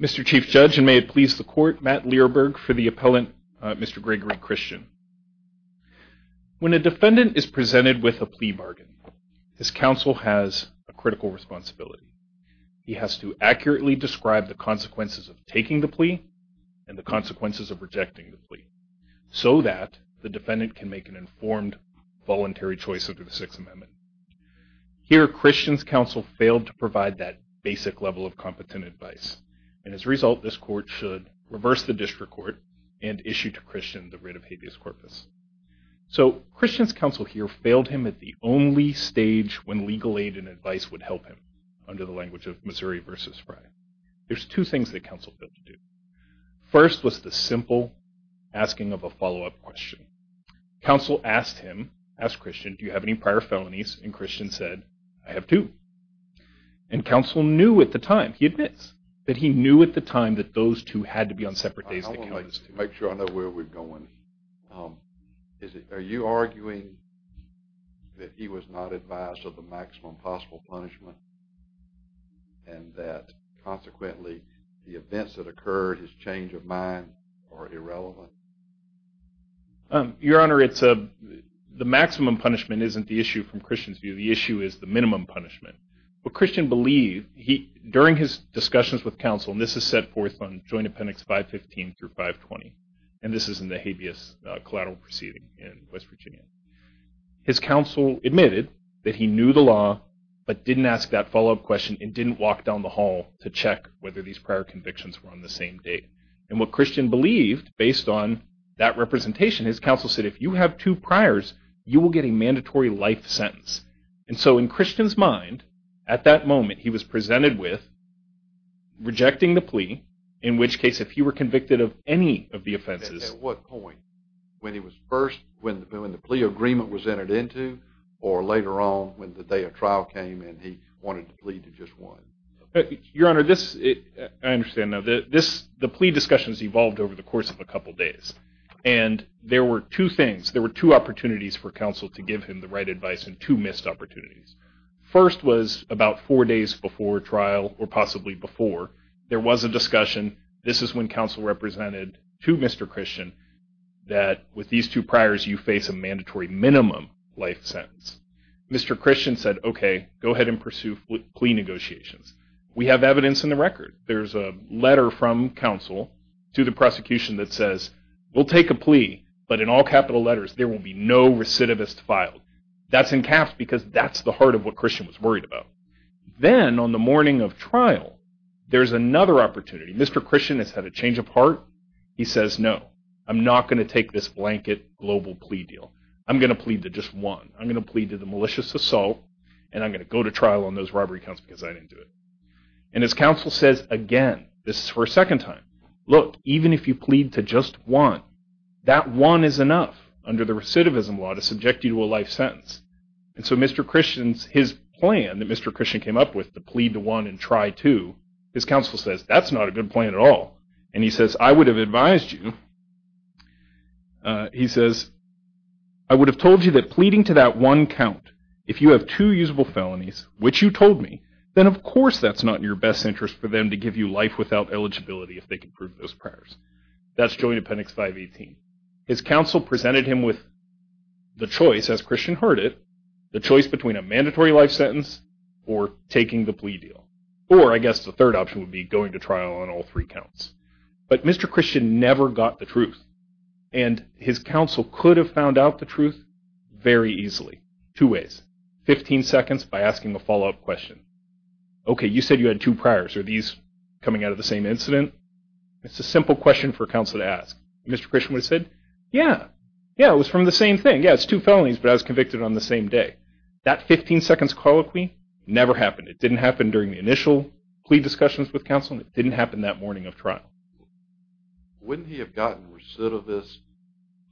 Mr. Chief Judge, and may it please the Court, Matt Learberg for the appellant, Mr. Gregory Christian. When a defendant is presented with a plea bargain, his counsel has a critical responsibility. He has to accurately describe the consequences of taking the plea and the consequences of rejecting the plea, so that the defendant can make an informed, voluntary choice under the Sixth Amendment. Here, Christian's counsel failed to provide that basic level of competent advice. And as a result, this Court should reverse the district court and issue to Christian the writ of habeas corpus. So Christian's counsel here failed him at the only stage when legal aid and advice would help him, under the language of Missouri v. Frye. There's two things that counsel failed to do. First was the simple asking of a follow-up question. Counsel asked him, asked Christian, do you have any prior felonies? And Christian said, I have two. And counsel knew at the time, he admits, that he knew at the time that those two had to be on separate days. I want to make sure I know where we're going. Are you arguing that he was not advised of the maximum possible punishment and that consequently the events that occurred, his change of mind, are irrelevant? Your Honor, the maximum punishment isn't the issue from Christian's view. The issue is the minimum punishment. What Christian believed, during his discussions with counsel, and this is set forth on Joint Appendix 515 through 520, and this is in the habeas collateral proceeding in West Virginia. His counsel admitted that he knew the law but didn't ask that follow-up question and didn't walk down the hall to check whether these prior convictions were on the same date. And what Christian believed, based on that representation, his counsel said if you have two priors, you will get a mandatory life sentence. And so in Christian's mind, at that moment, he was presented with rejecting the plea, in which case if he were convicted of any of the offenses. At what point? When he was first, when the plea agreement was entered into or later on when the day of trial came and he wanted to plead to just one? Your Honor, I understand now. The plea discussions evolved over the course of a couple days, and there were two things. There were two opportunities for counsel to give him the right advice and two missed opportunities. First was about four days before trial, or possibly before, there was a discussion. This is when counsel represented to Mr. Christian that with these two priors, you face a mandatory minimum life sentence. Mr. Christian said, okay, go ahead and pursue plea negotiations. We have evidence in the record. There's a letter from counsel to the prosecution that says, we'll take a plea, but in all capital letters, there will be no recidivist filed. That's in caps because that's the heart of what Christian was worried about. Then on the morning of trial, there's another opportunity. Mr. Christian has had a change of heart. He says, no, I'm not going to take this blanket global plea deal. I'm going to plead to just one. I'm going to plead to the malicious assault, and I'm going to go to trial on those robbery counts because I didn't do it. His counsel says, again, this is for a second time, look, even if you plead to just one, that one is enough under the recidivism law to subject you to a life sentence. So his plan that Mr. Christian came up with to plead to one and try two, his counsel says, that's not a good plan at all. He says, I would have advised you. He says, I would have told you that pleading to that one count, if you have two usable felonies, which you told me, then of course that's not in your best interest for them to give you life without eligibility if they can prove those prayers. That's Joint Appendix 518. His counsel presented him with the choice, as Christian heard it, the choice between a mandatory life sentence or taking the plea deal, or I guess the third option would be going to trial on all three counts. But Mr. Christian never got the truth, and his counsel could have found out the truth very easily. Two ways. Fifteen seconds by asking a follow-up question. Okay, you said you had two priors. Are these coming out of the same incident? It's a simple question for counsel to ask. Mr. Christian would have said, yeah, yeah, it was from the same thing. Yeah, it's two felonies, but I was convicted on the same day. That 15 seconds colloquy never happened. It didn't happen during the initial plea discussions with counsel, and it didn't happen that morning of trial. Wouldn't he have gotten recidivist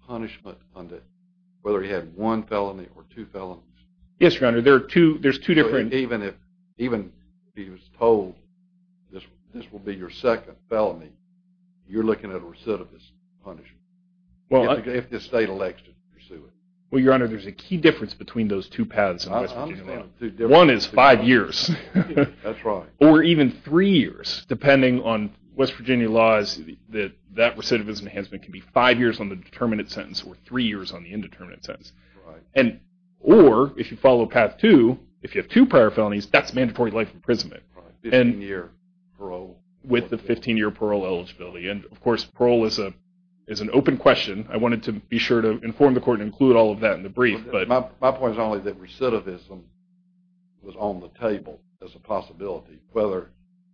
punishment on whether he had one felony or two felonies? Yes, Your Honor, there's two different. Even if he was told this will be your second felony, you're looking at a recidivist punishment if the state elects to pursue it. Well, Your Honor, there's a key difference between those two paths. One is five years. That's right. Or even three years, depending on West Virginia laws, that recidivism enhancement can be five years on the determinate sentence or three years on the indeterminate sentence. Right. Or if you follow path two, if you have two prior felonies, that's mandatory life imprisonment. Right, 15-year parole. With the 15-year parole eligibility. Of course, parole is an open question. I wanted to be sure to inform the Court and include all of that in the brief. My point is only that recidivism was on the table as a possibility, whether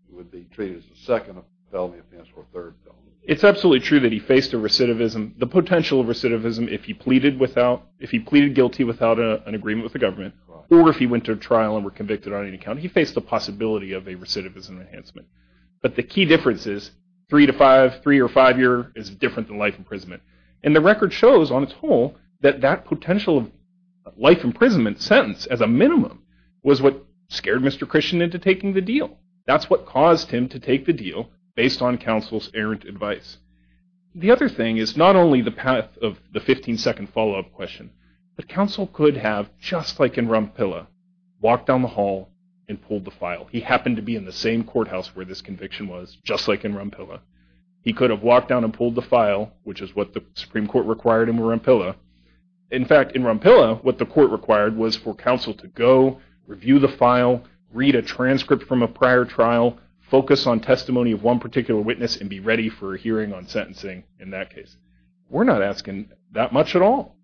it would be treated as a second felony offense or a third felony offense. It's absolutely true that he faced a recidivism. The potential of recidivism, if he pleaded guilty without an agreement with the government or if he went to trial and were convicted on any account, he faced the possibility of a recidivism enhancement. But the key difference is three to five, three or five years, is different than life imprisonment. And the record shows on its whole that that potential of life imprisonment sentence, as a minimum, was what scared Mr. Christian into taking the deal. That's what caused him to take the deal based on counsel's errant advice. The other thing is not only the path of the 15-second follow-up question, but counsel could have, just like in Rumpilla, walked down the hall and pulled the file. He happened to be in the same courthouse where this conviction was, just like in Rumpilla. He could have walked down and pulled the file, which is what the Supreme Court required in Rumpilla. In fact, in Rumpilla, what the court required was for counsel to go, review the file, read a transcript from a prior trial, focus on testimony of one particular witness, and be ready for a hearing on sentencing in that case. We're not asking that much at all.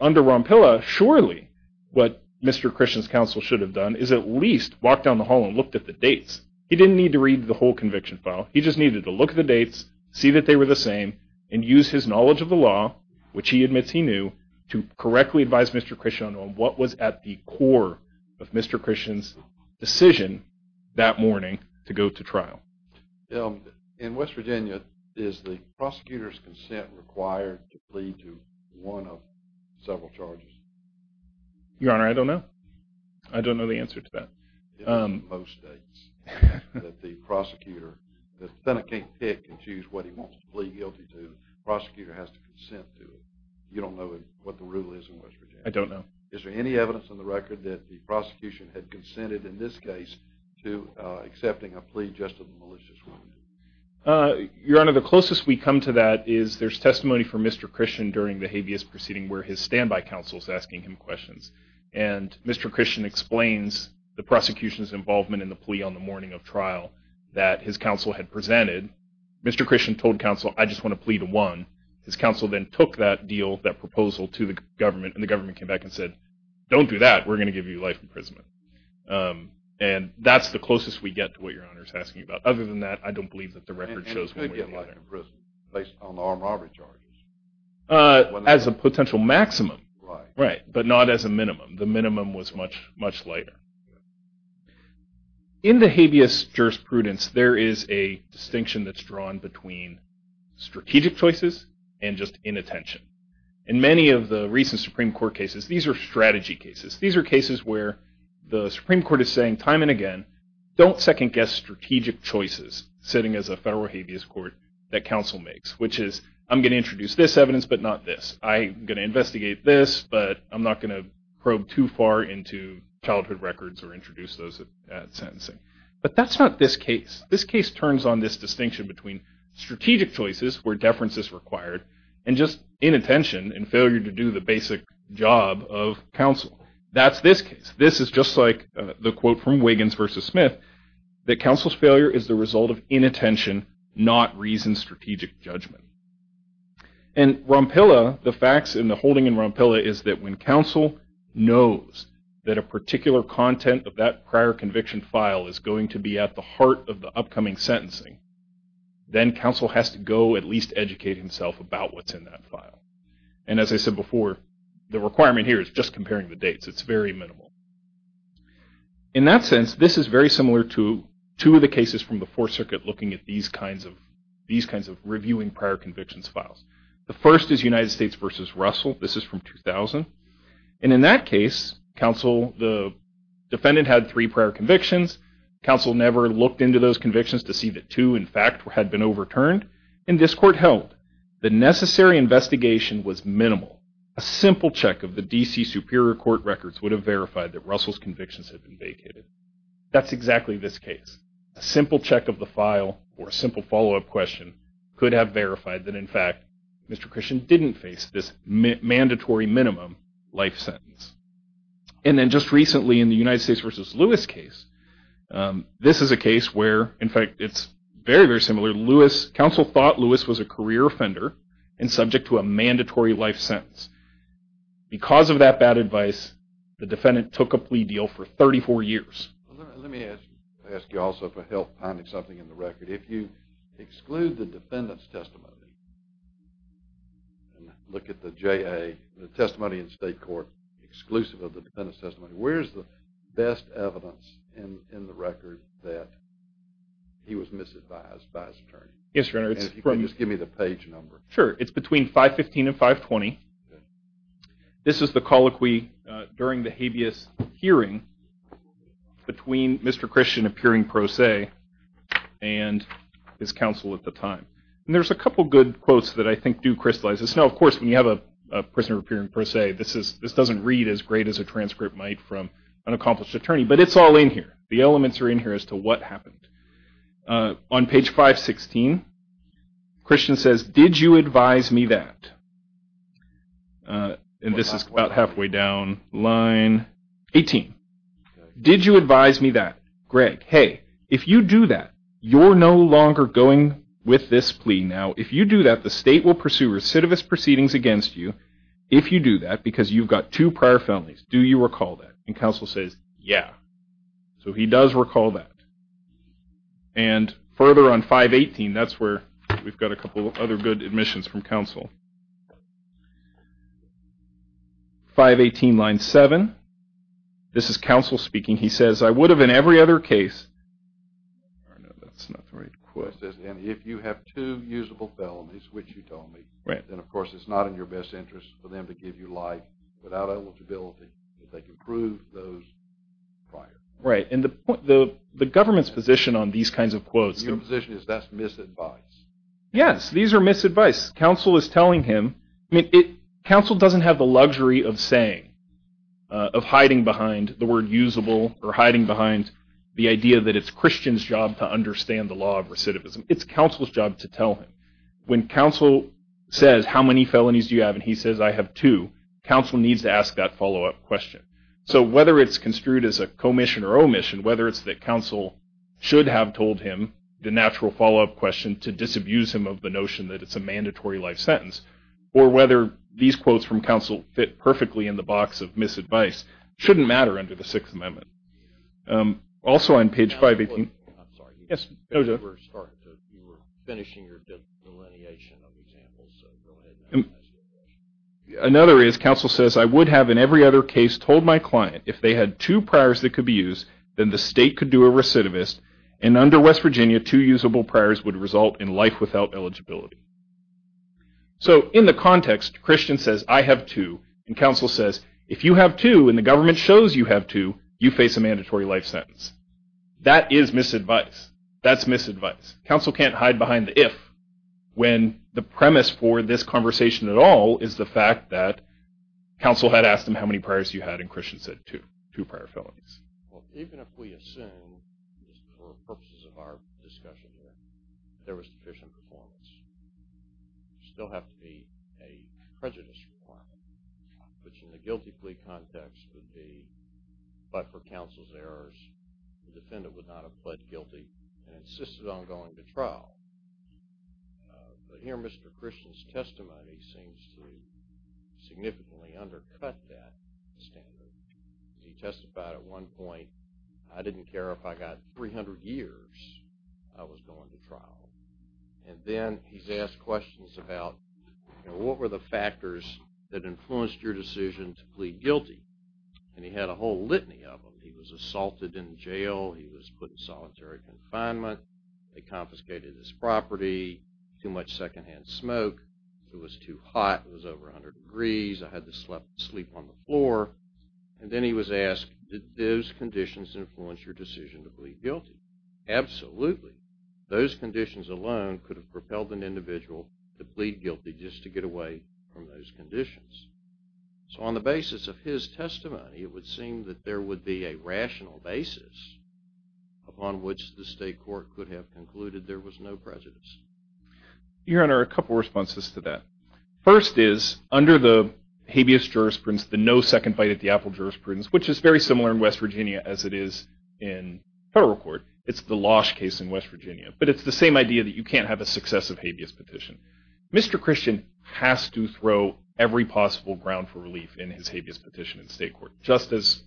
Under Rumpilla, surely what Mr. Christian's counsel should have done is at least walked down the hall and looked at the dates. He didn't need to read the whole conviction file. He just needed to look at the dates, see that they were the same, and use his knowledge of the law, which he admits he knew, to correctly advise Mr. Christian on what was at the core of Mr. Christian's decision that morning to go to trial. In West Virginia, is the prosecutor's consent required to plead to one of several charges? Your Honor, I don't know. I don't know the answer to that. In most states, if the Senate can't pick and choose what he wants to plead guilty to, the prosecutor has to consent to it. You don't know what the rule is in West Virginia? I don't know. Is there any evidence on the record that the prosecution had consented in this case to accepting a plea just to the malicious woman? Your Honor, the closest we come to that is there's testimony from Mr. Christian during the habeas proceeding where his standby counsel is asking him questions. And Mr. Christian explains the prosecution's involvement in the plea on the morning of trial that his counsel had presented. Mr. Christian told counsel, I just want to plea to one. His counsel then took that deal, that proposal, to the government, and the government came back and said, don't do that. We're going to give you life imprisonment. And that's the closest we get to what Your Honor is asking about. Other than that, I don't believe that the record shows one way or the other. And who would get life imprisonment based on armed robbery charges? As a potential maximum. Right. But not as a minimum. The minimum was much lighter. In the habeas jurisprudence, there is a distinction that's drawn between strategic choices and just inattention. In many of the recent Supreme Court cases, these are strategy cases. These are cases where the Supreme Court is saying time and again, don't second-guess strategic choices sitting as a federal habeas court that counsel makes, which is I'm going to introduce this evidence but not this. I'm going to investigate this but I'm not going to probe too far into childhood records or introduce those sentencing. But that's not this case. This case turns on this distinction between strategic choices where deference is required and just inattention and failure to do the basic job of counsel. That's this case. This is just like the quote from Wiggins v. Smith, that counsel's failure is the result of inattention, not reasoned strategic judgment. And Rompilla, the facts in the holding in Rompilla is that when counsel knows that a particular content of that prior conviction file is going to be at the heart of the upcoming sentencing, then counsel has to go at least educate himself about what's in that file. And as I said before, the requirement here is just comparing the dates. It's very minimal. In that sense, this is very similar to two of the cases from the Fourth Circuit looking at these kinds of reviewing prior convictions files. The first is United States v. Russell. This is from 2000. And in that case, the defendant had three prior convictions. Counsel never looked into those convictions to see that two, in fact, had been overturned. And this court held the necessary investigation was minimal. A simple check of the D.C. Superior Court records would have verified that Russell's convictions had been vacated. That's exactly this case. A simple check of the file or a simple follow-up question could have verified that, in fact, Mr. Christian didn't face this mandatory minimum life sentence. And then just recently in the United States v. Lewis case, this is a case where, in fact, it's very, very similar. Counsel thought Lewis was a career offender and subject to a mandatory life sentence. Because of that bad advice, the defendant took a plea deal for 34 years. Let me ask you also for help finding something in the record. If you exclude the defendant's testimony and look at the J.A., the testimony in state court, exclusive of the defendant's testimony, where's the best evidence in the record that he was misadvised by his attorney? Yes, Your Honor. And if you could just give me the page number. Sure. It's between 515 and 520. This is the colloquy during the habeas hearing between Mr. Christian appearing pro se and his counsel at the time. And there's a couple good quotes that I think do crystallize this. Now, of course, when you have a prisoner appearing pro se, this doesn't read as great as a transcript might from an accomplished attorney. But it's all in here. The elements are in here as to what happened. On page 516, Christian says, Did you advise me that? And this is about halfway down line 18. Did you advise me that? Greg, hey, if you do that, you're no longer going with this plea now. If you do that, the state will pursue recidivist proceedings against you if you do that because you've got two prior felonies. Do you recall that? And counsel says, yeah. So he does recall that. And further on 518, that's where we've got a couple of other good admissions from counsel. 518, line 7. This is counsel speaking. He says, I would have in every other case. That's not the right quote. It says, if you have two usable felonies, which you told me, then, of course, it's not in your best interest for them to give you life without eligibility if they can prove those prior. Right, and the government's position on these kinds of quotes. Your position is that's misadvice. Yes, these are misadvice. Counsel is telling him. Counsel doesn't have the luxury of saying, of hiding behind the word usable or hiding behind the idea that it's Christian's job to understand the law of recidivism. It's counsel's job to tell him. When counsel says, how many felonies do you have? And he says, I have two. Counsel needs to ask that follow-up question. So whether it's construed as a commission or omission, whether it's that counsel should have told him the natural follow-up question to disabuse him of the notion that it's a mandatory life sentence, or whether these quotes from counsel fit perfectly in the box of misadvice, shouldn't matter under the Sixth Amendment. Also on page 518. I'm sorry. You were finishing your delineation of examples, so go ahead. Another is counsel says, I would have in every other case told my client if they had two priors that could be used, then the state could do a recidivist, and under West Virginia, two usable priors would result in life without eligibility. So in the context, Christian says, I have two. And counsel says, if you have two and the government shows you have two, you face a mandatory life sentence. That is misadvice. That's misadvice. Counsel can't hide behind the if. When the premise for this conversation at all is the fact that counsel had asked him how many priors he had, and Christian said two, two prior felonies. Well, even if we assume, for purposes of our discussion here, there was sufficient performance, there would still have to be a prejudice requirement, which in the guilty plea context would be, but for counsel's errors, the defendant would not have pled guilty and insisted on going to trial. But here Mr. Christian's testimony seems to significantly undercut that standard. He testified at one point, I didn't care if I got 300 years, I was going to trial. And then he's asked questions about, you know, what were the factors that influenced your decision to plead guilty? And he had a whole litany of them. He was assaulted in jail. He was put in solitary confinement. They confiscated his property. Too much secondhand smoke. It was too hot. It was over 100 degrees. I had to sleep on the floor. And then he was asked, did those conditions influence your decision to plead guilty? Absolutely. Those conditions alone could have propelled an individual to plead guilty just to get away from those conditions. So on the basis of his testimony, it would seem that there would be a rational basis upon which the state court could have concluded there was no prejudice. Your Honor, a couple of responses to that. First is, under the habeas jurisprudence, the no second fight at the apple jurisprudence, which is very similar in West Virginia as it is in federal court. It's the Losh case in West Virginia. But it's the same idea that you can't have a successive habeas petition. Mr. Christian has to throw every possible ground for relief in his habeas petition in state court, just as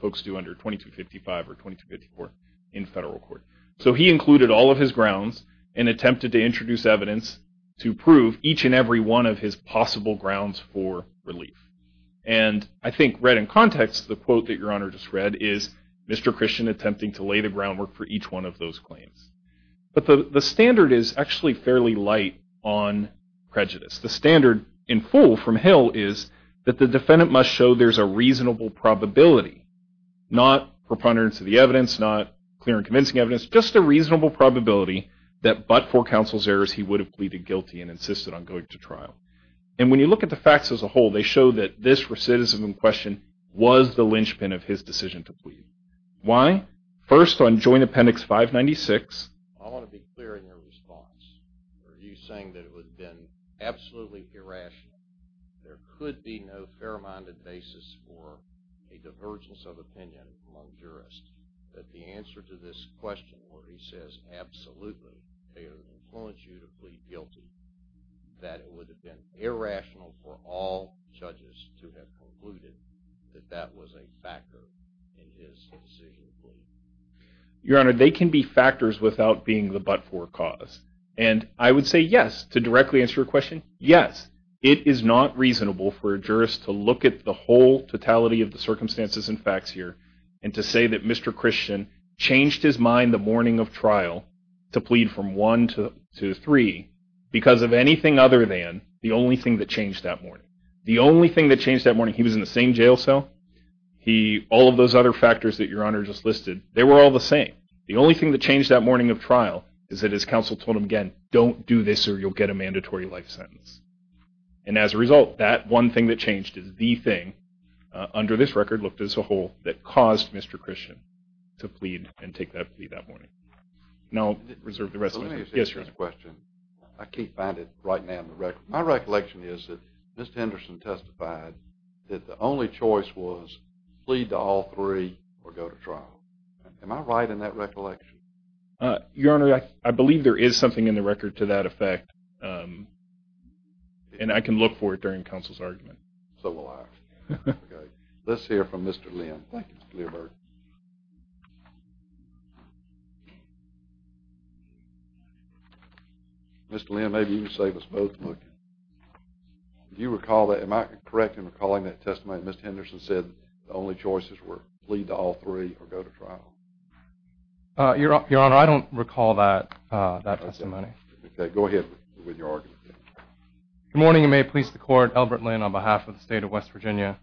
folks do under 2255 or 2254 in federal court. So he included all of his grounds and attempted to introduce evidence to prove each and every one of his possible grounds for relief. And I think read in context, the quote that Your Honor just read, is Mr. Christian attempting to lay the groundwork for each one of those claims. But the standard is actually fairly light on prejudice. The standard in full from Hill is that the defendant must show there's a reasonable probability, not preponderance of the evidence, not clear and convincing evidence, just a reasonable probability that but for counsel's errors, he would have pleaded guilty and insisted on going to trial. And when you look at the facts as a whole, they show that this recidivism question was the linchpin of his decision to plead. Why? First on Joint Appendix 596. I want to be clear in your response. Are you saying that it would have been absolutely irrational, there could be no fair-minded basis for a divergence of opinion among jurists, that the answer to this question where he says, absolutely, they would have influenced you to plead guilty, that it would have been irrational for all judges to have concluded that that was a factor in his decision to plead? Your Honor, they can be factors without being the but-for cause. And I would say yes. To directly answer your question, yes. It is not reasonable for a jurist to look at the whole totality of the circumstances and facts here and to say that Mr. Christian changed his mind the morning of trial to plead from 1 to 3 because of anything other than the only thing that changed that morning. The only thing that changed that morning, he was in the same jail cell, all of those other factors that your Honor just listed, they were all the same. The only thing that changed that morning of trial is that his counsel told him again, don't do this or you'll get a mandatory life sentence. And as a result, that one thing that changed is the thing under this record looked as a whole that caused Mr. Christian to plead and take that plea that morning. Now I'll reserve the rest of my time. Let me ask you this question. I can't find it right now in the record. My recollection is that Mr. Henderson testified that the only choice was plead to all three or go to trial. Am I right in that recollection? Your Honor, I believe there is something in the record to that effect and I can look for it during counsel's argument. So will I. Let's hear from Mr. Lim. Thank you, Mr. Learberg. Mr. Lim, maybe you can save us both a moment. If you recall, am I correct in recalling that testimony that Mr. Henderson said the only choices were plead to all three or go to trial? Your Honor, I don't recall that testimony. Okay, go ahead with your argument. Good morning and may it please the Court. Albert Lim on behalf of the State of West Virginia.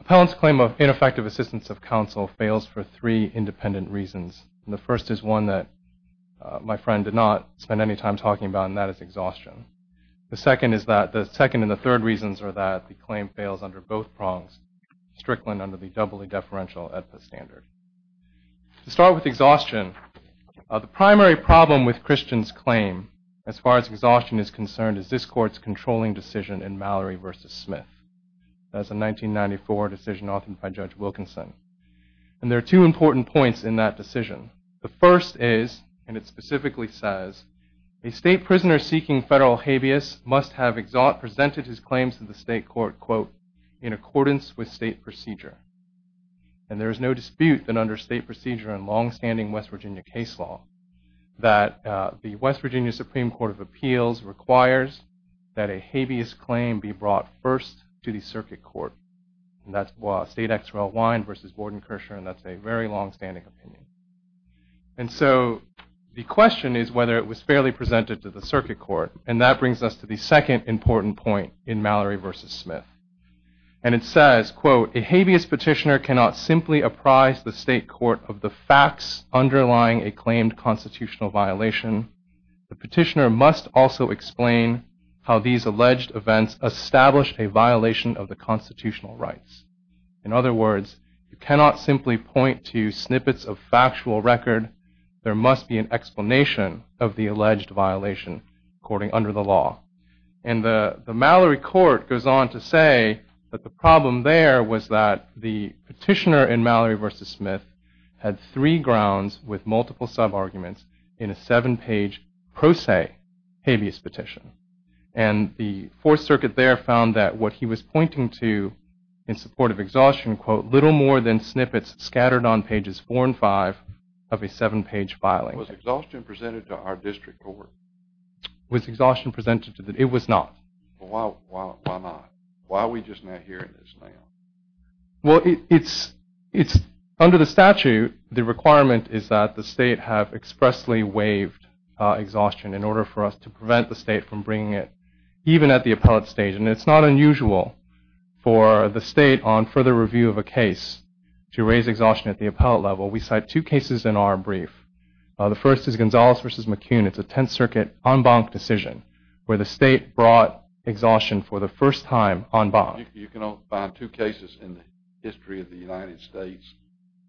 Appellant's claim of ineffective assistance of counsel fails for three independent reasons. The first is one that my friend did not spend any time talking about, and that is exhaustion. The second and the third reasons are that the claim fails under both prongs, strickland under the doubly deferential AEDPA standard. To start with exhaustion, the primary problem with Christian's claim, as far as exhaustion is concerned, is this Court's controlling decision in Mallory v. Smith. That's a 1994 decision authored by Judge Wilkinson. And there are two important points in that decision. The first is, and it specifically says, a state prisoner seeking federal habeas must have presented his claims to the state court, quote, in accordance with state procedure. And there is no dispute that under state procedure and longstanding West Virginia case law that the West Virginia Supreme Court of Appeals requires that a habeas claim be brought first to the circuit court. And that's State Exerell Wyne v. Gordon Kirshner, and that's a very longstanding opinion. And so the question is whether it was fairly presented to the circuit court, and that brings us to the second important point in Mallory v. Smith. And it says, quote, a habeas petitioner cannot simply apprise the state court of the facts underlying a claimed constitutional violation. The petitioner must also explain how these alleged events established a violation of the constitutional rights. In other words, you cannot simply point to snippets of factual record. There must be an explanation of the alleged violation according under the law. And the Mallory court goes on to say that the problem there was that the petitioner in Mallory v. Smith had three grounds with multiple sub-arguments in a seven-page pro se habeas petition. And the Fourth Circuit there found that what he was pointing to in support of exhaustion, quote, little more than snippets scattered on pages four and five of a seven-page filing. Was exhaustion presented to our district court? Was exhaustion presented to the district court? It was not. Why not? Why are we just not hearing this now? Well, under the statute, the requirement is that the state have expressly waived exhaustion in order for us to prevent the state from bringing it even at the appellate stage. And it's not unusual for the state on further review of a case to raise exhaustion at the appellate level. We cite two cases in our brief. The first is Gonzalez v. McCune. It's a Tenth Circuit en banc decision where the state brought exhaustion for the first time en banc. You can find two cases in the history of the United States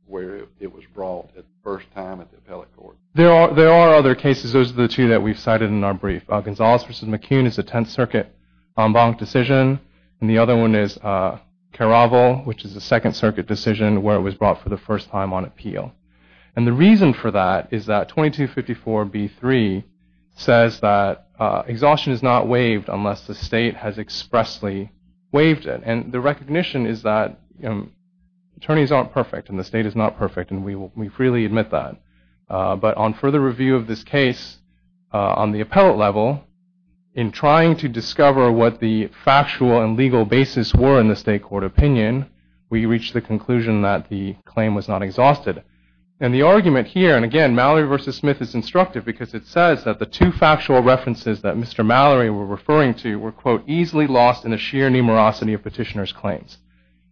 where it was brought at the first time at the appellate court. There are other cases. Those are the two that we've cited in our brief. Gonzalez v. McCune is a Tenth Circuit en banc decision. And the other one is Caravel, which is a Second Circuit decision where it was brought for the first time on appeal. And the reason for that is that 2254B3 says that exhaustion is not waived unless the state has expressly waived it. And the recognition is that attorneys aren't perfect, and the state is not perfect, and we freely admit that. But on further review of this case on the appellate level, in trying to discover what the factual and legal basis were in the state court opinion, we reached the conclusion that the claim was not exhausted. And the argument here, and again, Mallory v. Smith is instructive because it says that the two factual references that Mr. Mallory were referring to were, quote, easily lost in the sheer numerosity of petitioner's claims.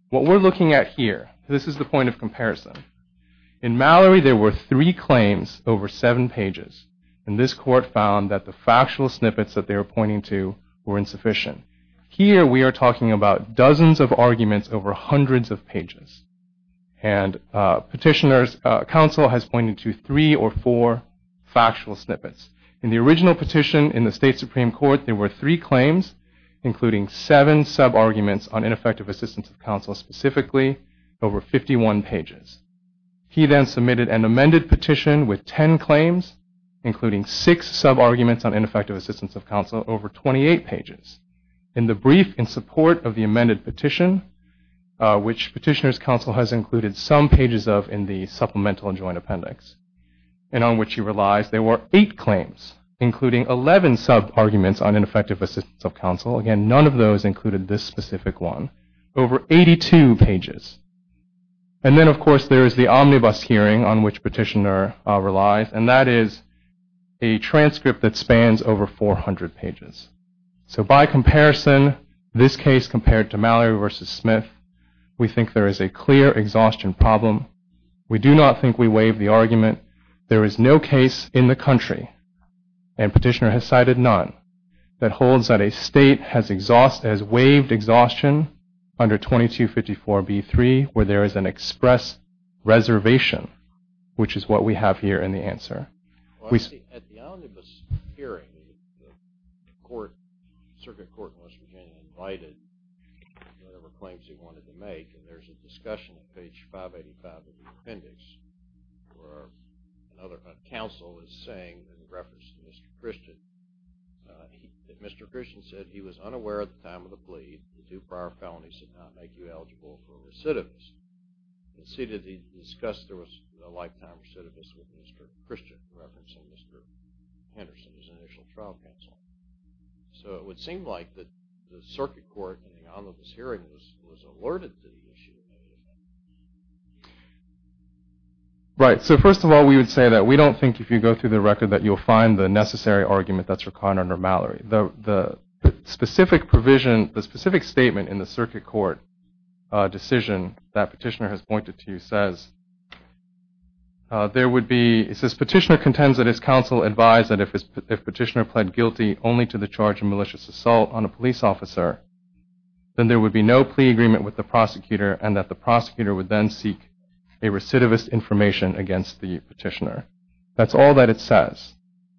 What we're looking at here, this is the point of comparison. In Mallory, there were three claims over seven pages. And this court found that the factual snippets that they were pointing to were insufficient. Here we are talking about dozens of arguments over hundreds of pages. And petitioner's counsel has pointed to three or four factual snippets. In the original petition in the state supreme court, there were three claims, including seven sub-arguments on ineffective assistance of counsel specifically, over 51 pages. He then submitted an amended petition with 10 claims, including six sub-arguments on ineffective assistance of counsel, over 28 pages. In the brief in support of the amended petition, which petitioner's counsel has included some pages of in the supplemental joint appendix, and on which he relies, there were eight claims, including 11 sub-arguments on ineffective assistance of counsel. Again, none of those included this specific one, over 82 pages. And then, of course, there is the omnibus hearing on which petitioner relies, and that is a transcript that spans over 400 pages. So by comparison, this case compared to Mallory v. Smith, we think there is a clear exhaustion problem. We do not think we waive the argument. There is no case in the country, and petitioner has cited none, that holds that a state has waived exhaustion under 2254b3, where there is an express reservation, which is what we have here in the answer. At the omnibus hearing, the circuit court in West Virginia invited whatever claims he wanted to make, and there is a discussion on page 585 of the appendix, where a counsel is saying, in reference to Mr. Christian, that Mr. Christian said he was unaware at the time of the plea that two prior felonies did not make you eligible for a recidivist. It is stated he discussed there was a lifetime recidivist with Mr. Christian, in reference to Mr. Henderson, his initial trial counsel. So it would seem like the circuit court in the omnibus hearing was alerted to the issue. Right. So first of all, we would say that we do not think if you go through the record that you will find the necessary argument that is required under Mallory. The specific provision, the specific statement in the circuit court decision that Petitioner has pointed to says, Petitioner contends that his counsel advised that if Petitioner pled guilty only to the charge of malicious assault on a police officer, then there would be no plea agreement with the prosecutor, and that the prosecutor would then seek a recidivist information against the Petitioner. That's all that it says.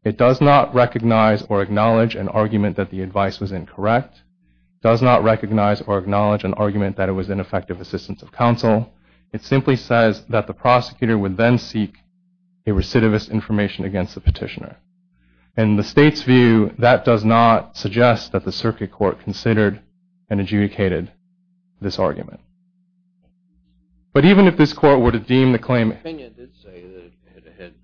It does not recognize or acknowledge an argument that the advice was incorrect. It does not recognize or acknowledge an argument that it was ineffective assistance of counsel. It simply says that the prosecutor would then seek a recidivist information against the Petitioner. In the state's view, that does not suggest that the circuit court considered and adjudicated this argument. But even if this court were to deem the claim... The opinion did say that it had,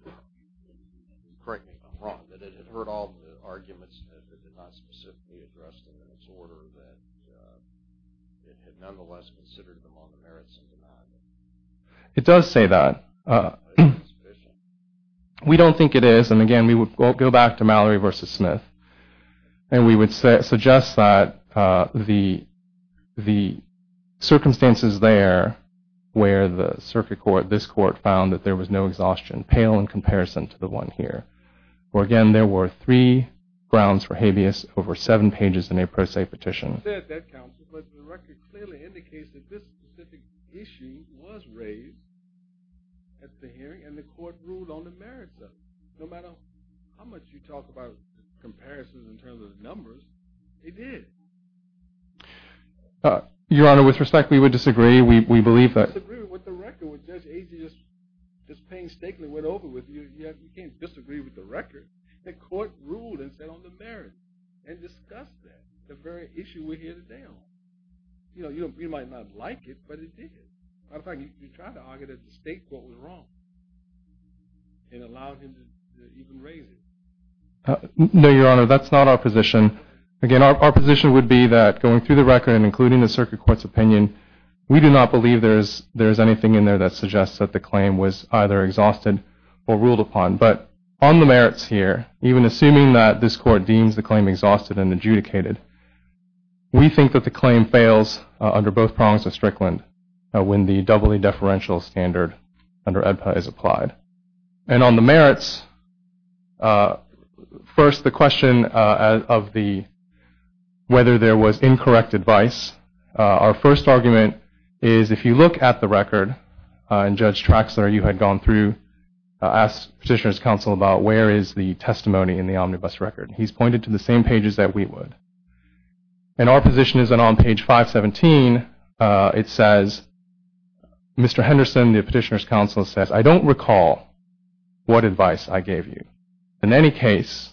correct me if I'm wrong, that it had heard all the arguments that it did not specifically address them in its order, that it had nonetheless considered them on the merits of denial. It does say that. We don't think it is, and again, we would go back to Mallory v. Smith, and we would suggest that the circumstances there where the circuit court, this court, found that there was no exhaustion pale in comparison to the one here. Where again, there were three grounds for habeas over seven pages in a pro se petition. It said that, counsel, but the record clearly indicates that this specific issue was raised at the hearing, and the court ruled on the merits of it. No matter how much you talk about comparisons in terms of numbers, it did. Your Honor, with respect, we would disagree. We believe that... You can't disagree with the record. Judge Agee just painstakingly went over it with you. You can't disagree with the record. The court ruled and said on the merits and discussed that, the very issue we're here today on. You know, you might not like it, but it did. As a matter of fact, you tried to argue that the state court was wrong and allowed him to even raise it. No, Your Honor, that's not our position. Again, our position would be that going through the record and including the circuit court's opinion, we do not believe there is anything in there that suggests that the claim was either exhausted or ruled upon. But on the merits here, even assuming that this court deems the claim exhausted and adjudicated, we think that the claim fails under both prongs of Strickland when the doubly deferential standard under EBPA is applied. And on the merits, first the question of whether there was incorrect advice. Our first argument is if you look at the record, and Judge Traxler, you had gone through, asked Petitioner's Counsel about where is the testimony in the omnibus record. He's pointed to the same pages that we would. And our position is that on page 517, it says, Mr. Henderson, the Petitioner's Counsel, says, I don't recall what advice I gave you. In any case,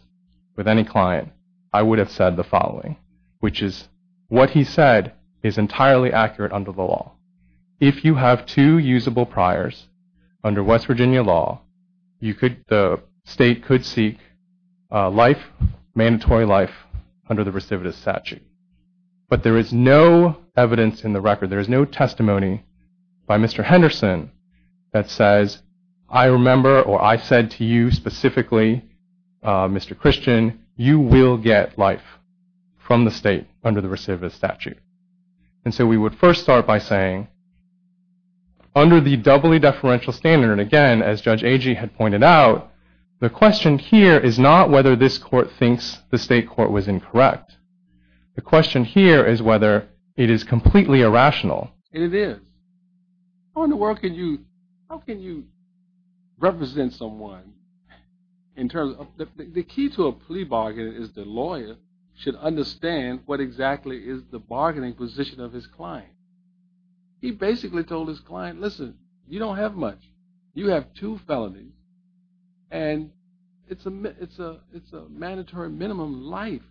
with any client, I would have said the following, which is what he said is entirely accurate under the law. If you have two usable priors under West Virginia law, the state could seek life, mandatory life, under the recidivist statute. But there is no evidence in the record, there is no testimony by Mr. Henderson that says, I remember or I said to you specifically, Mr. Christian, you will get life from the state under the recidivist statute. And so we would first start by saying, under the doubly deferential standard, and again, as Judge Agee had pointed out, the question here is not whether this court thinks the state court was incorrect. The question here is whether it is completely irrational. And it is. How in the world can you represent someone? The key to a plea bargain is the lawyer should understand what exactly is the bargaining position of his client. He basically told his client, listen, you don't have much. You have two felonies, and it's a mandatory minimum life.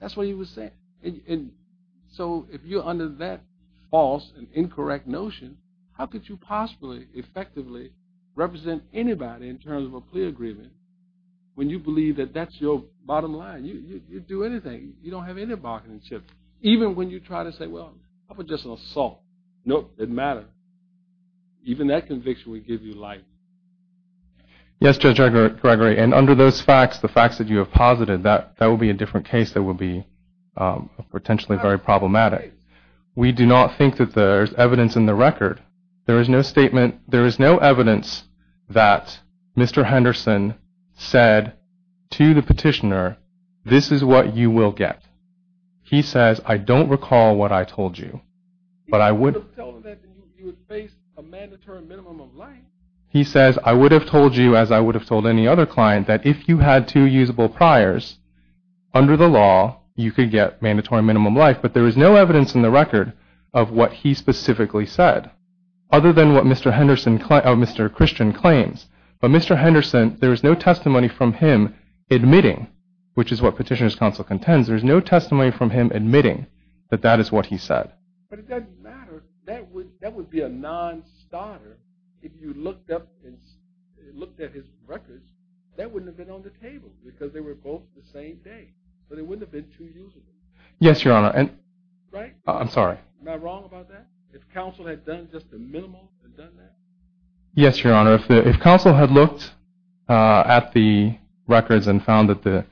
That's what he was saying. And so if you're under that false and incorrect notion, how could you possibly effectively represent anybody in terms of a plea agreement when you believe that that's your bottom line? You'd do anything. You don't have any bargaining chip. Even when you try to say, well, how about just an assault? Nope, it matters. Even that conviction would give you life. Yes, Judge Gregory, and under those facts, the facts that you have posited, that would be a different case that would be potentially very problematic. We do not think that there's evidence in the record. There is no statement. There is no evidence that Mr. Henderson said to the petitioner, this is what you will get. He says, I don't recall what I told you. He would have told you that you would face a mandatory minimum of life. He says, I would have told you, as I would have told any other client, that if you had two usable priors, under the law, you could get mandatory minimum life. But there is no evidence in the record of what he specifically said, other than what Mr. Christian claims. But Mr. Henderson, there is no testimony from him admitting, which is what Petitioner's Counsel contends, there is no testimony from him admitting that that is what he said. But it doesn't matter. That would be a non-starter if you looked at his records. That wouldn't have been on the table because they were both the same day. So they wouldn't have been two usable. Yes, Your Honor. Right? I'm sorry. Am I wrong about that? If counsel had done just the minimum and done that? Yes, Your Honor. If counsel had looked at the records and found that the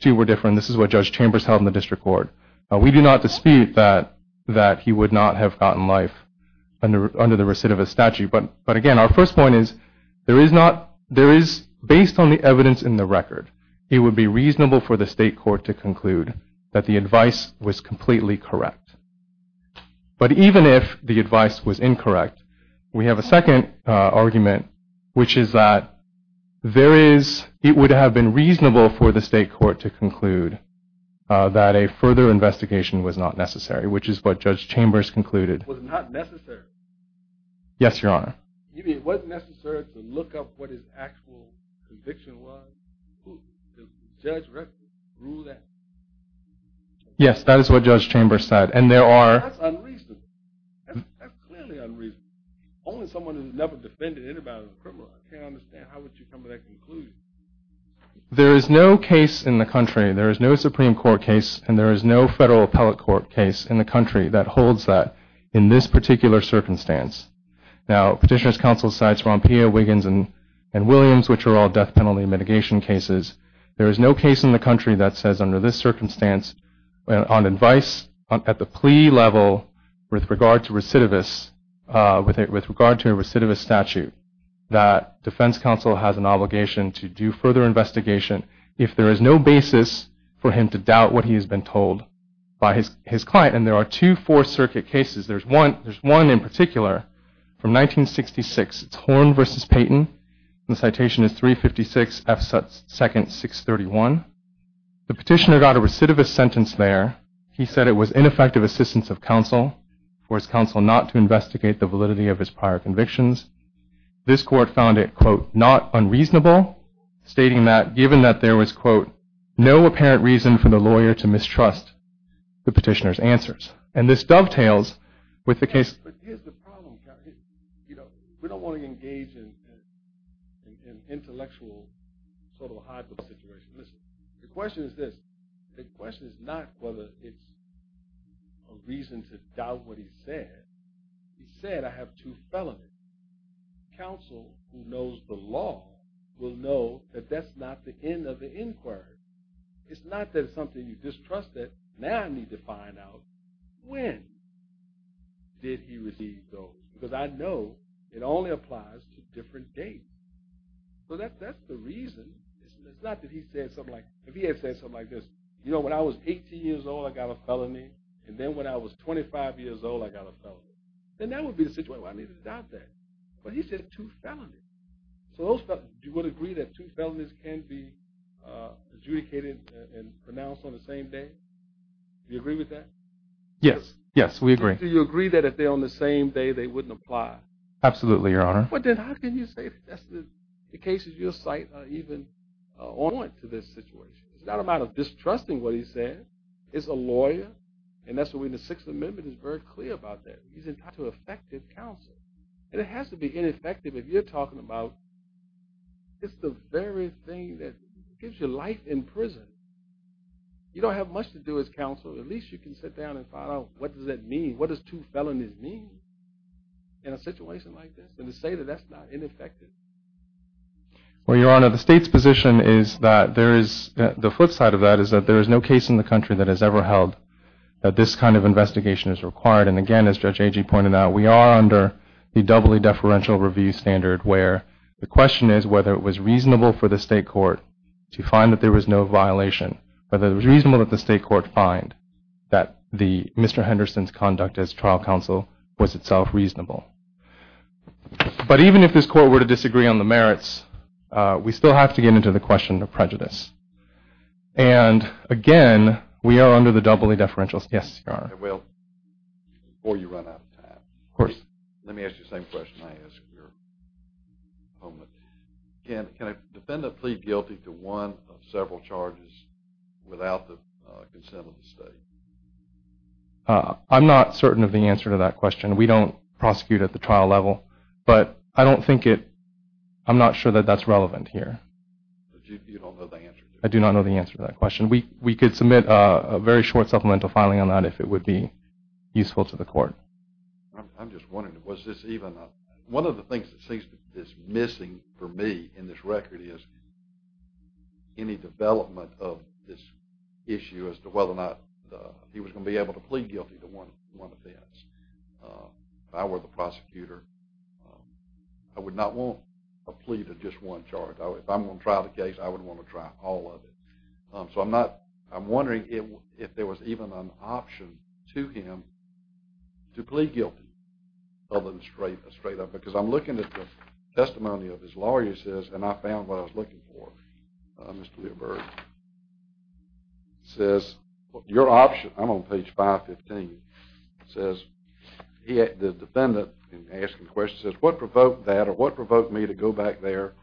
two were different, and this is what Judge Chambers held in the district court, we do not dispute that he would not have gotten life under the recidivist statute. But, again, our first point is, based on the evidence in the record, it would be reasonable for the state court to conclude that the advice was completely correct. But even if the advice was incorrect, we have a second argument, which is that it would have been reasonable for the state court to conclude that a further investigation was not necessary, which is what Judge Chambers concluded. Was not necessary? Yes, Your Honor. You mean it wasn't necessary to look up what his actual conviction was? Did the judge rule that? Yes, that is what Judge Chambers said. That's unreasonable. That's clearly unreasonable. Only someone who has never defended anybody is a criminal. I can't understand. How would you come to that conclusion? There is no case in the country, there is no Supreme Court case, and there is no federal appellate court case in the country that holds that in this particular circumstance. Now, Petitioner's Counsel cites Rompea, Wiggins, and Williams, which are all death penalty mitigation cases. There is no case in the country that says, under this circumstance, on advice at the plea level with regard to recidivists, with regard to a recidivist statute, that defense counsel has an obligation to do further investigation if there is no basis for him to doubt what he has been told by his client. And there are two Fourth Circuit cases. There's one in particular from 1966. It's Horn v. Payton. The citation is 356 F. 2nd, 631. The petitioner got a recidivist sentence there. He said it was ineffective assistance of counsel, for his counsel not to investigate the validity of his prior convictions. This court found it, quote, not unreasonable, stating that, given that there was, quote, no apparent reason for the lawyer to mistrust the petitioner's answers. And this dovetails with the case. But here's the problem. We don't want to engage in an intellectual sort of a hidebook situation. Listen, the question is this. The question is not whether it's a reason to doubt what he said. He said, I have two felonies. Counsel who knows the law will know that that's not the end of the inquiry. It's not that it's something you distrust it. Now I need to find out, when did he receive those? Because I know it only applies to different dates. So that's the reason. It's not that he said something like, if he had said something like this, you know, when I was 18 years old I got a felony, and then when I was 25 years old I got a felony. Then that would be the situation where I needed to doubt that. But he said two felonies. So you would agree that two felonies can be adjudicated and pronounced on the same day? Do you agree with that? Yes, yes, we agree. Do you agree that if they're on the same day they wouldn't apply? Absolutely, Your Honor. But then how can you say that the cases you cite are even owing to this situation? It's not a matter of distrusting what he said. It's a lawyer, and that's the way the Sixth Amendment is very clear about that. He's entitled to effective counsel. And it has to be ineffective if you're talking about just the very thing that gives you life in prison. You don't have much to do as counsel. At least you can sit down and find out what does that mean? What does two felonies mean in a situation like this? And to say that that's not ineffective. Well, Your Honor, the state's position is that there is, the flip side of that is that there is no case in the country that has ever held that this kind of investigation is required. And, again, as Judge Agee pointed out, we are under the doubly deferential review standard where the question is whether it was reasonable for the state court to find that there was no violation, whether it was reasonable that the state court find that Mr. Henderson's conduct as trial counsel was itself reasonable. But even if his court were to disagree on the merits, we still have to get into the question of prejudice. And, again, we are under the doubly deferential standard. Yes, Your Honor. Well, before you run out of time. Of course. Let me ask you the same question I asked your opponent. Can a defendant plead guilty to one of several charges without the consent of the state? I'm not certain of the answer to that question. We don't prosecute at the trial level. But I don't think it, I'm not sure that that's relevant here. You don't know the answer? I do not know the answer to that question. We could submit a very short supplemental filing on that if it would be useful to the court. I'm just wondering, was this even a, one of the things that seems to be missing for me in this record is any development of this issue as to whether or not he was going to be able to plead guilty to one offense. If I were the prosecutor, I would not want a plea to just one charge. If I'm going to try the case, I would want to try all of it. So I'm not, I'm wondering if there was even an option to him to plead guilty other than straight up. Because I'm looking at the testimony of his lawyer, he says, and I found what I was looking for, Mr. Lieber, says your option, I'm on page 515, says the defendant in asking the question says, what provoked that or what provoked me to go back there,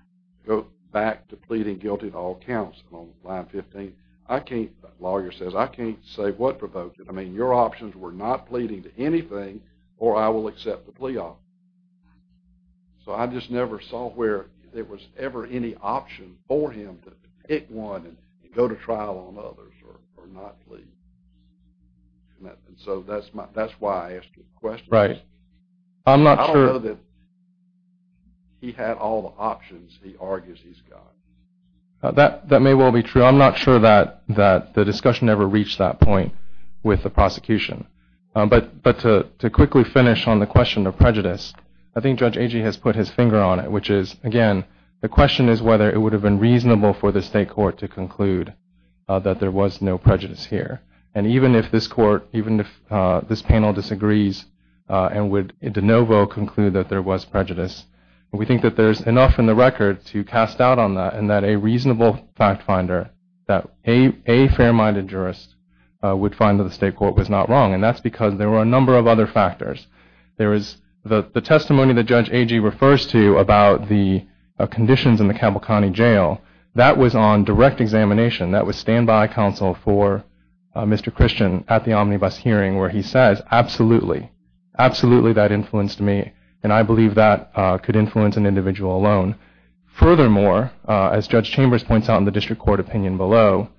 go back to pleading guilty to all counts on line 15? I can't, the lawyer says, I can't say what provoked it. I mean, your options were not pleading to anything or I will accept the plea off. So I just never saw where there was ever any option for him to pick one and go to trial on others or not plead. And so that's why I asked you the question. Right. I don't know that he had all the options he argues he's got. That may well be true. I'm not sure that the discussion ever reached that point with the prosecution. But to quickly finish on the question of prejudice, I think Judge Agee has put his finger on it, which is, again, the question is whether it would have been reasonable for the state court to conclude that there was no prejudice here. And even if this court, even if this panel disagrees and would de novo conclude that there was prejudice, we think that there's enough in the record to cast doubt on that and that a reasonable fact finder, that a fair-minded jurist would find that the state court was not wrong. And that's because there were a number of other factors. There is the testimony that Judge Agee refers to about the conditions in the Cavalcanti jail. That was on direct examination. That was standby counsel for Mr. Christian at the omnibus hearing where he says, absolutely. Absolutely that influenced me. And I believe that could influence an individual alone. Furthermore, as Judge Chambers points out in the district court opinion below,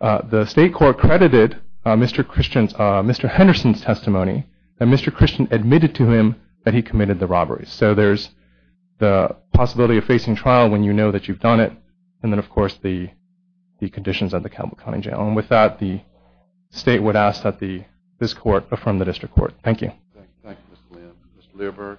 the state court credited Mr. Henderson's testimony that Mr. Christian admitted to him that he committed the robberies. So there's the possibility of facing trial when you know that you've done it. And then, of course, the conditions of the Cavalcanti jail. And with that, the state would ask that this court affirm the district court. Thank you. Thank you, Mr. Lynn. Mr. Learberg?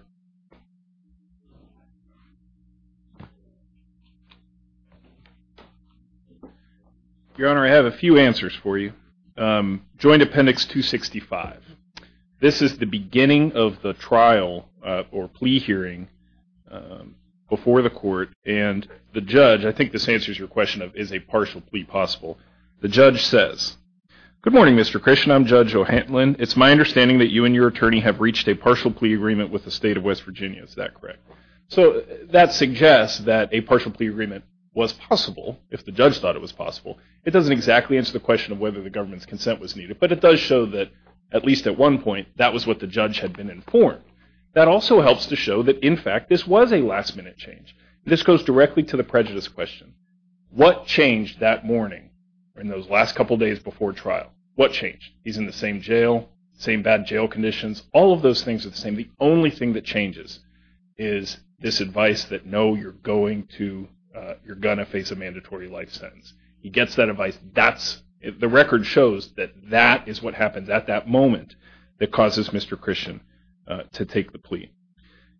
Your Honor, I have a few answers for you. Joint Appendix 265. This is the beginning of the trial or plea hearing before the court. And the judge, I think this answers your question of is a partial plea possible. The judge says, good morning, Mr. Christian. I'm Judge O'Hanlon. It's my understanding that you and your attorney have reached a partial plea agreement with the state of West Virginia. Is that correct? So that suggests that a partial plea agreement was possible if the judge thought it was possible. It doesn't exactly answer the question of whether the government's consent was needed, but it does show that at least at one point that was what the judge had been informed. That also helps to show that, in fact, this was a last minute change. This goes directly to the prejudice question. What changed that morning in those last couple days before trial? What changed? He's in the same jail, same bad jail conditions. All of those things are the same. The only thing that changes is this advice that, no, you're going to face a mandatory life sentence. He gets that advice. The record shows that that is what happened at that moment that causes Mr. Christian to take the plea.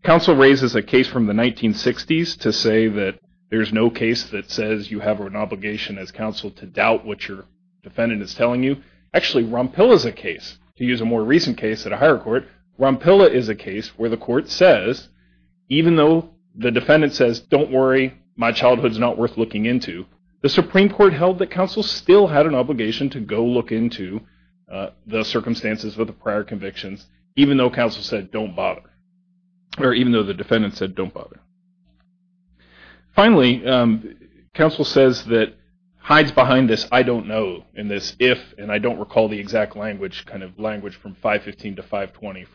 Counsel raises a case from the 1960s to say that there's no case that says you have an obligation as counsel to doubt what your defendant is telling you. Actually, Rompilla's a case, to use a more recent case at a higher court. Rompilla is a case where the court says, even though the defendant says, don't worry, my childhood's not worth looking into, the Supreme Court held that counsel still had an obligation to go look into the circumstances of the prior convictions even though counsel said, don't bother, or even though the defendant said, don't bother. Finally, counsel says that hides behind this I don't know and this if and I don't recall the exact language, kind of language from 515 to 520,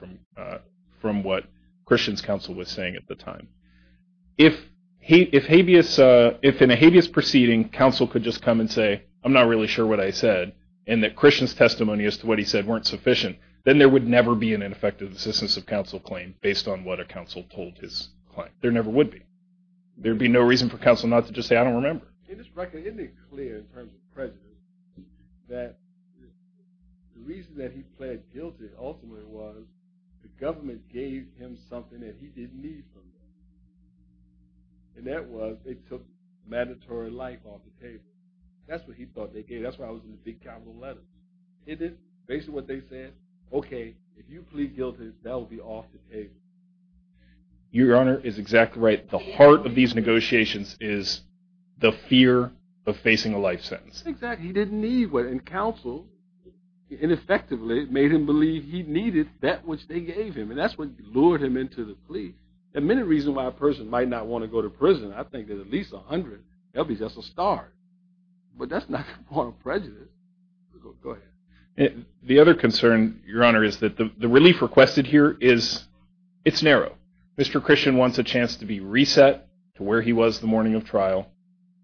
from what Christian's counsel was saying at the time. If in a habeas proceeding counsel could just come and say, I'm not really sure what I said, and that Christian's testimony as to what he said weren't sufficient, then there would never be an ineffective assistance of counsel claim based on what a counsel told his client. There never would be. There would be no reason for counsel not to just say, I don't remember. Isn't it clear in terms of prejudice that the reason that he pled guilty ultimately was the government gave him something that he didn't need from them. And that was they took mandatory life off the table. That's what he thought they gave. That's why I was in the big capital letter. It is basically what they said. Okay, if you plead guilty that will be off the table. Your Honor is exactly right. The heart of these negotiations is the fear of facing a life sentence. Exactly. He didn't need what counsel ineffectively made him believe he needed that which they gave him and that's what lured him into the plea. There are many reasons why a person might not want to go to prison. I think that at least 100, that would be just a start. But that's not a point of prejudice. Go ahead. The other concern, Your Honor, is that the relief requested here is it's narrow. Mr. Christian wants a chance to be reset to where he was the morning of trial,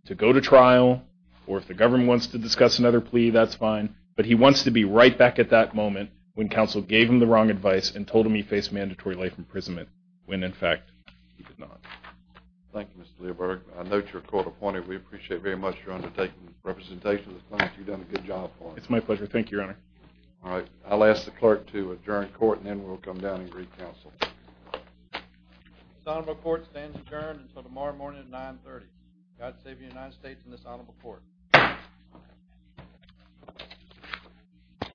to go to trial, or if the government wants to discuss another plea, that's fine. But he wants to be right back at that moment when counsel gave him the wrong advice and told him he faced mandatory life imprisonment when, in fact, he did not. Thank you, Mr. Leiberg. I note your court appointed. We appreciate very much your undertaking representation. You've done a good job for us. It's my pleasure. Thank you, Your Honor. All right. I'll ask the clerk to adjourn court and then we'll come down and greet counsel. This honorable court stands adjourned until tomorrow morning at 930. God save the United States and this honorable court.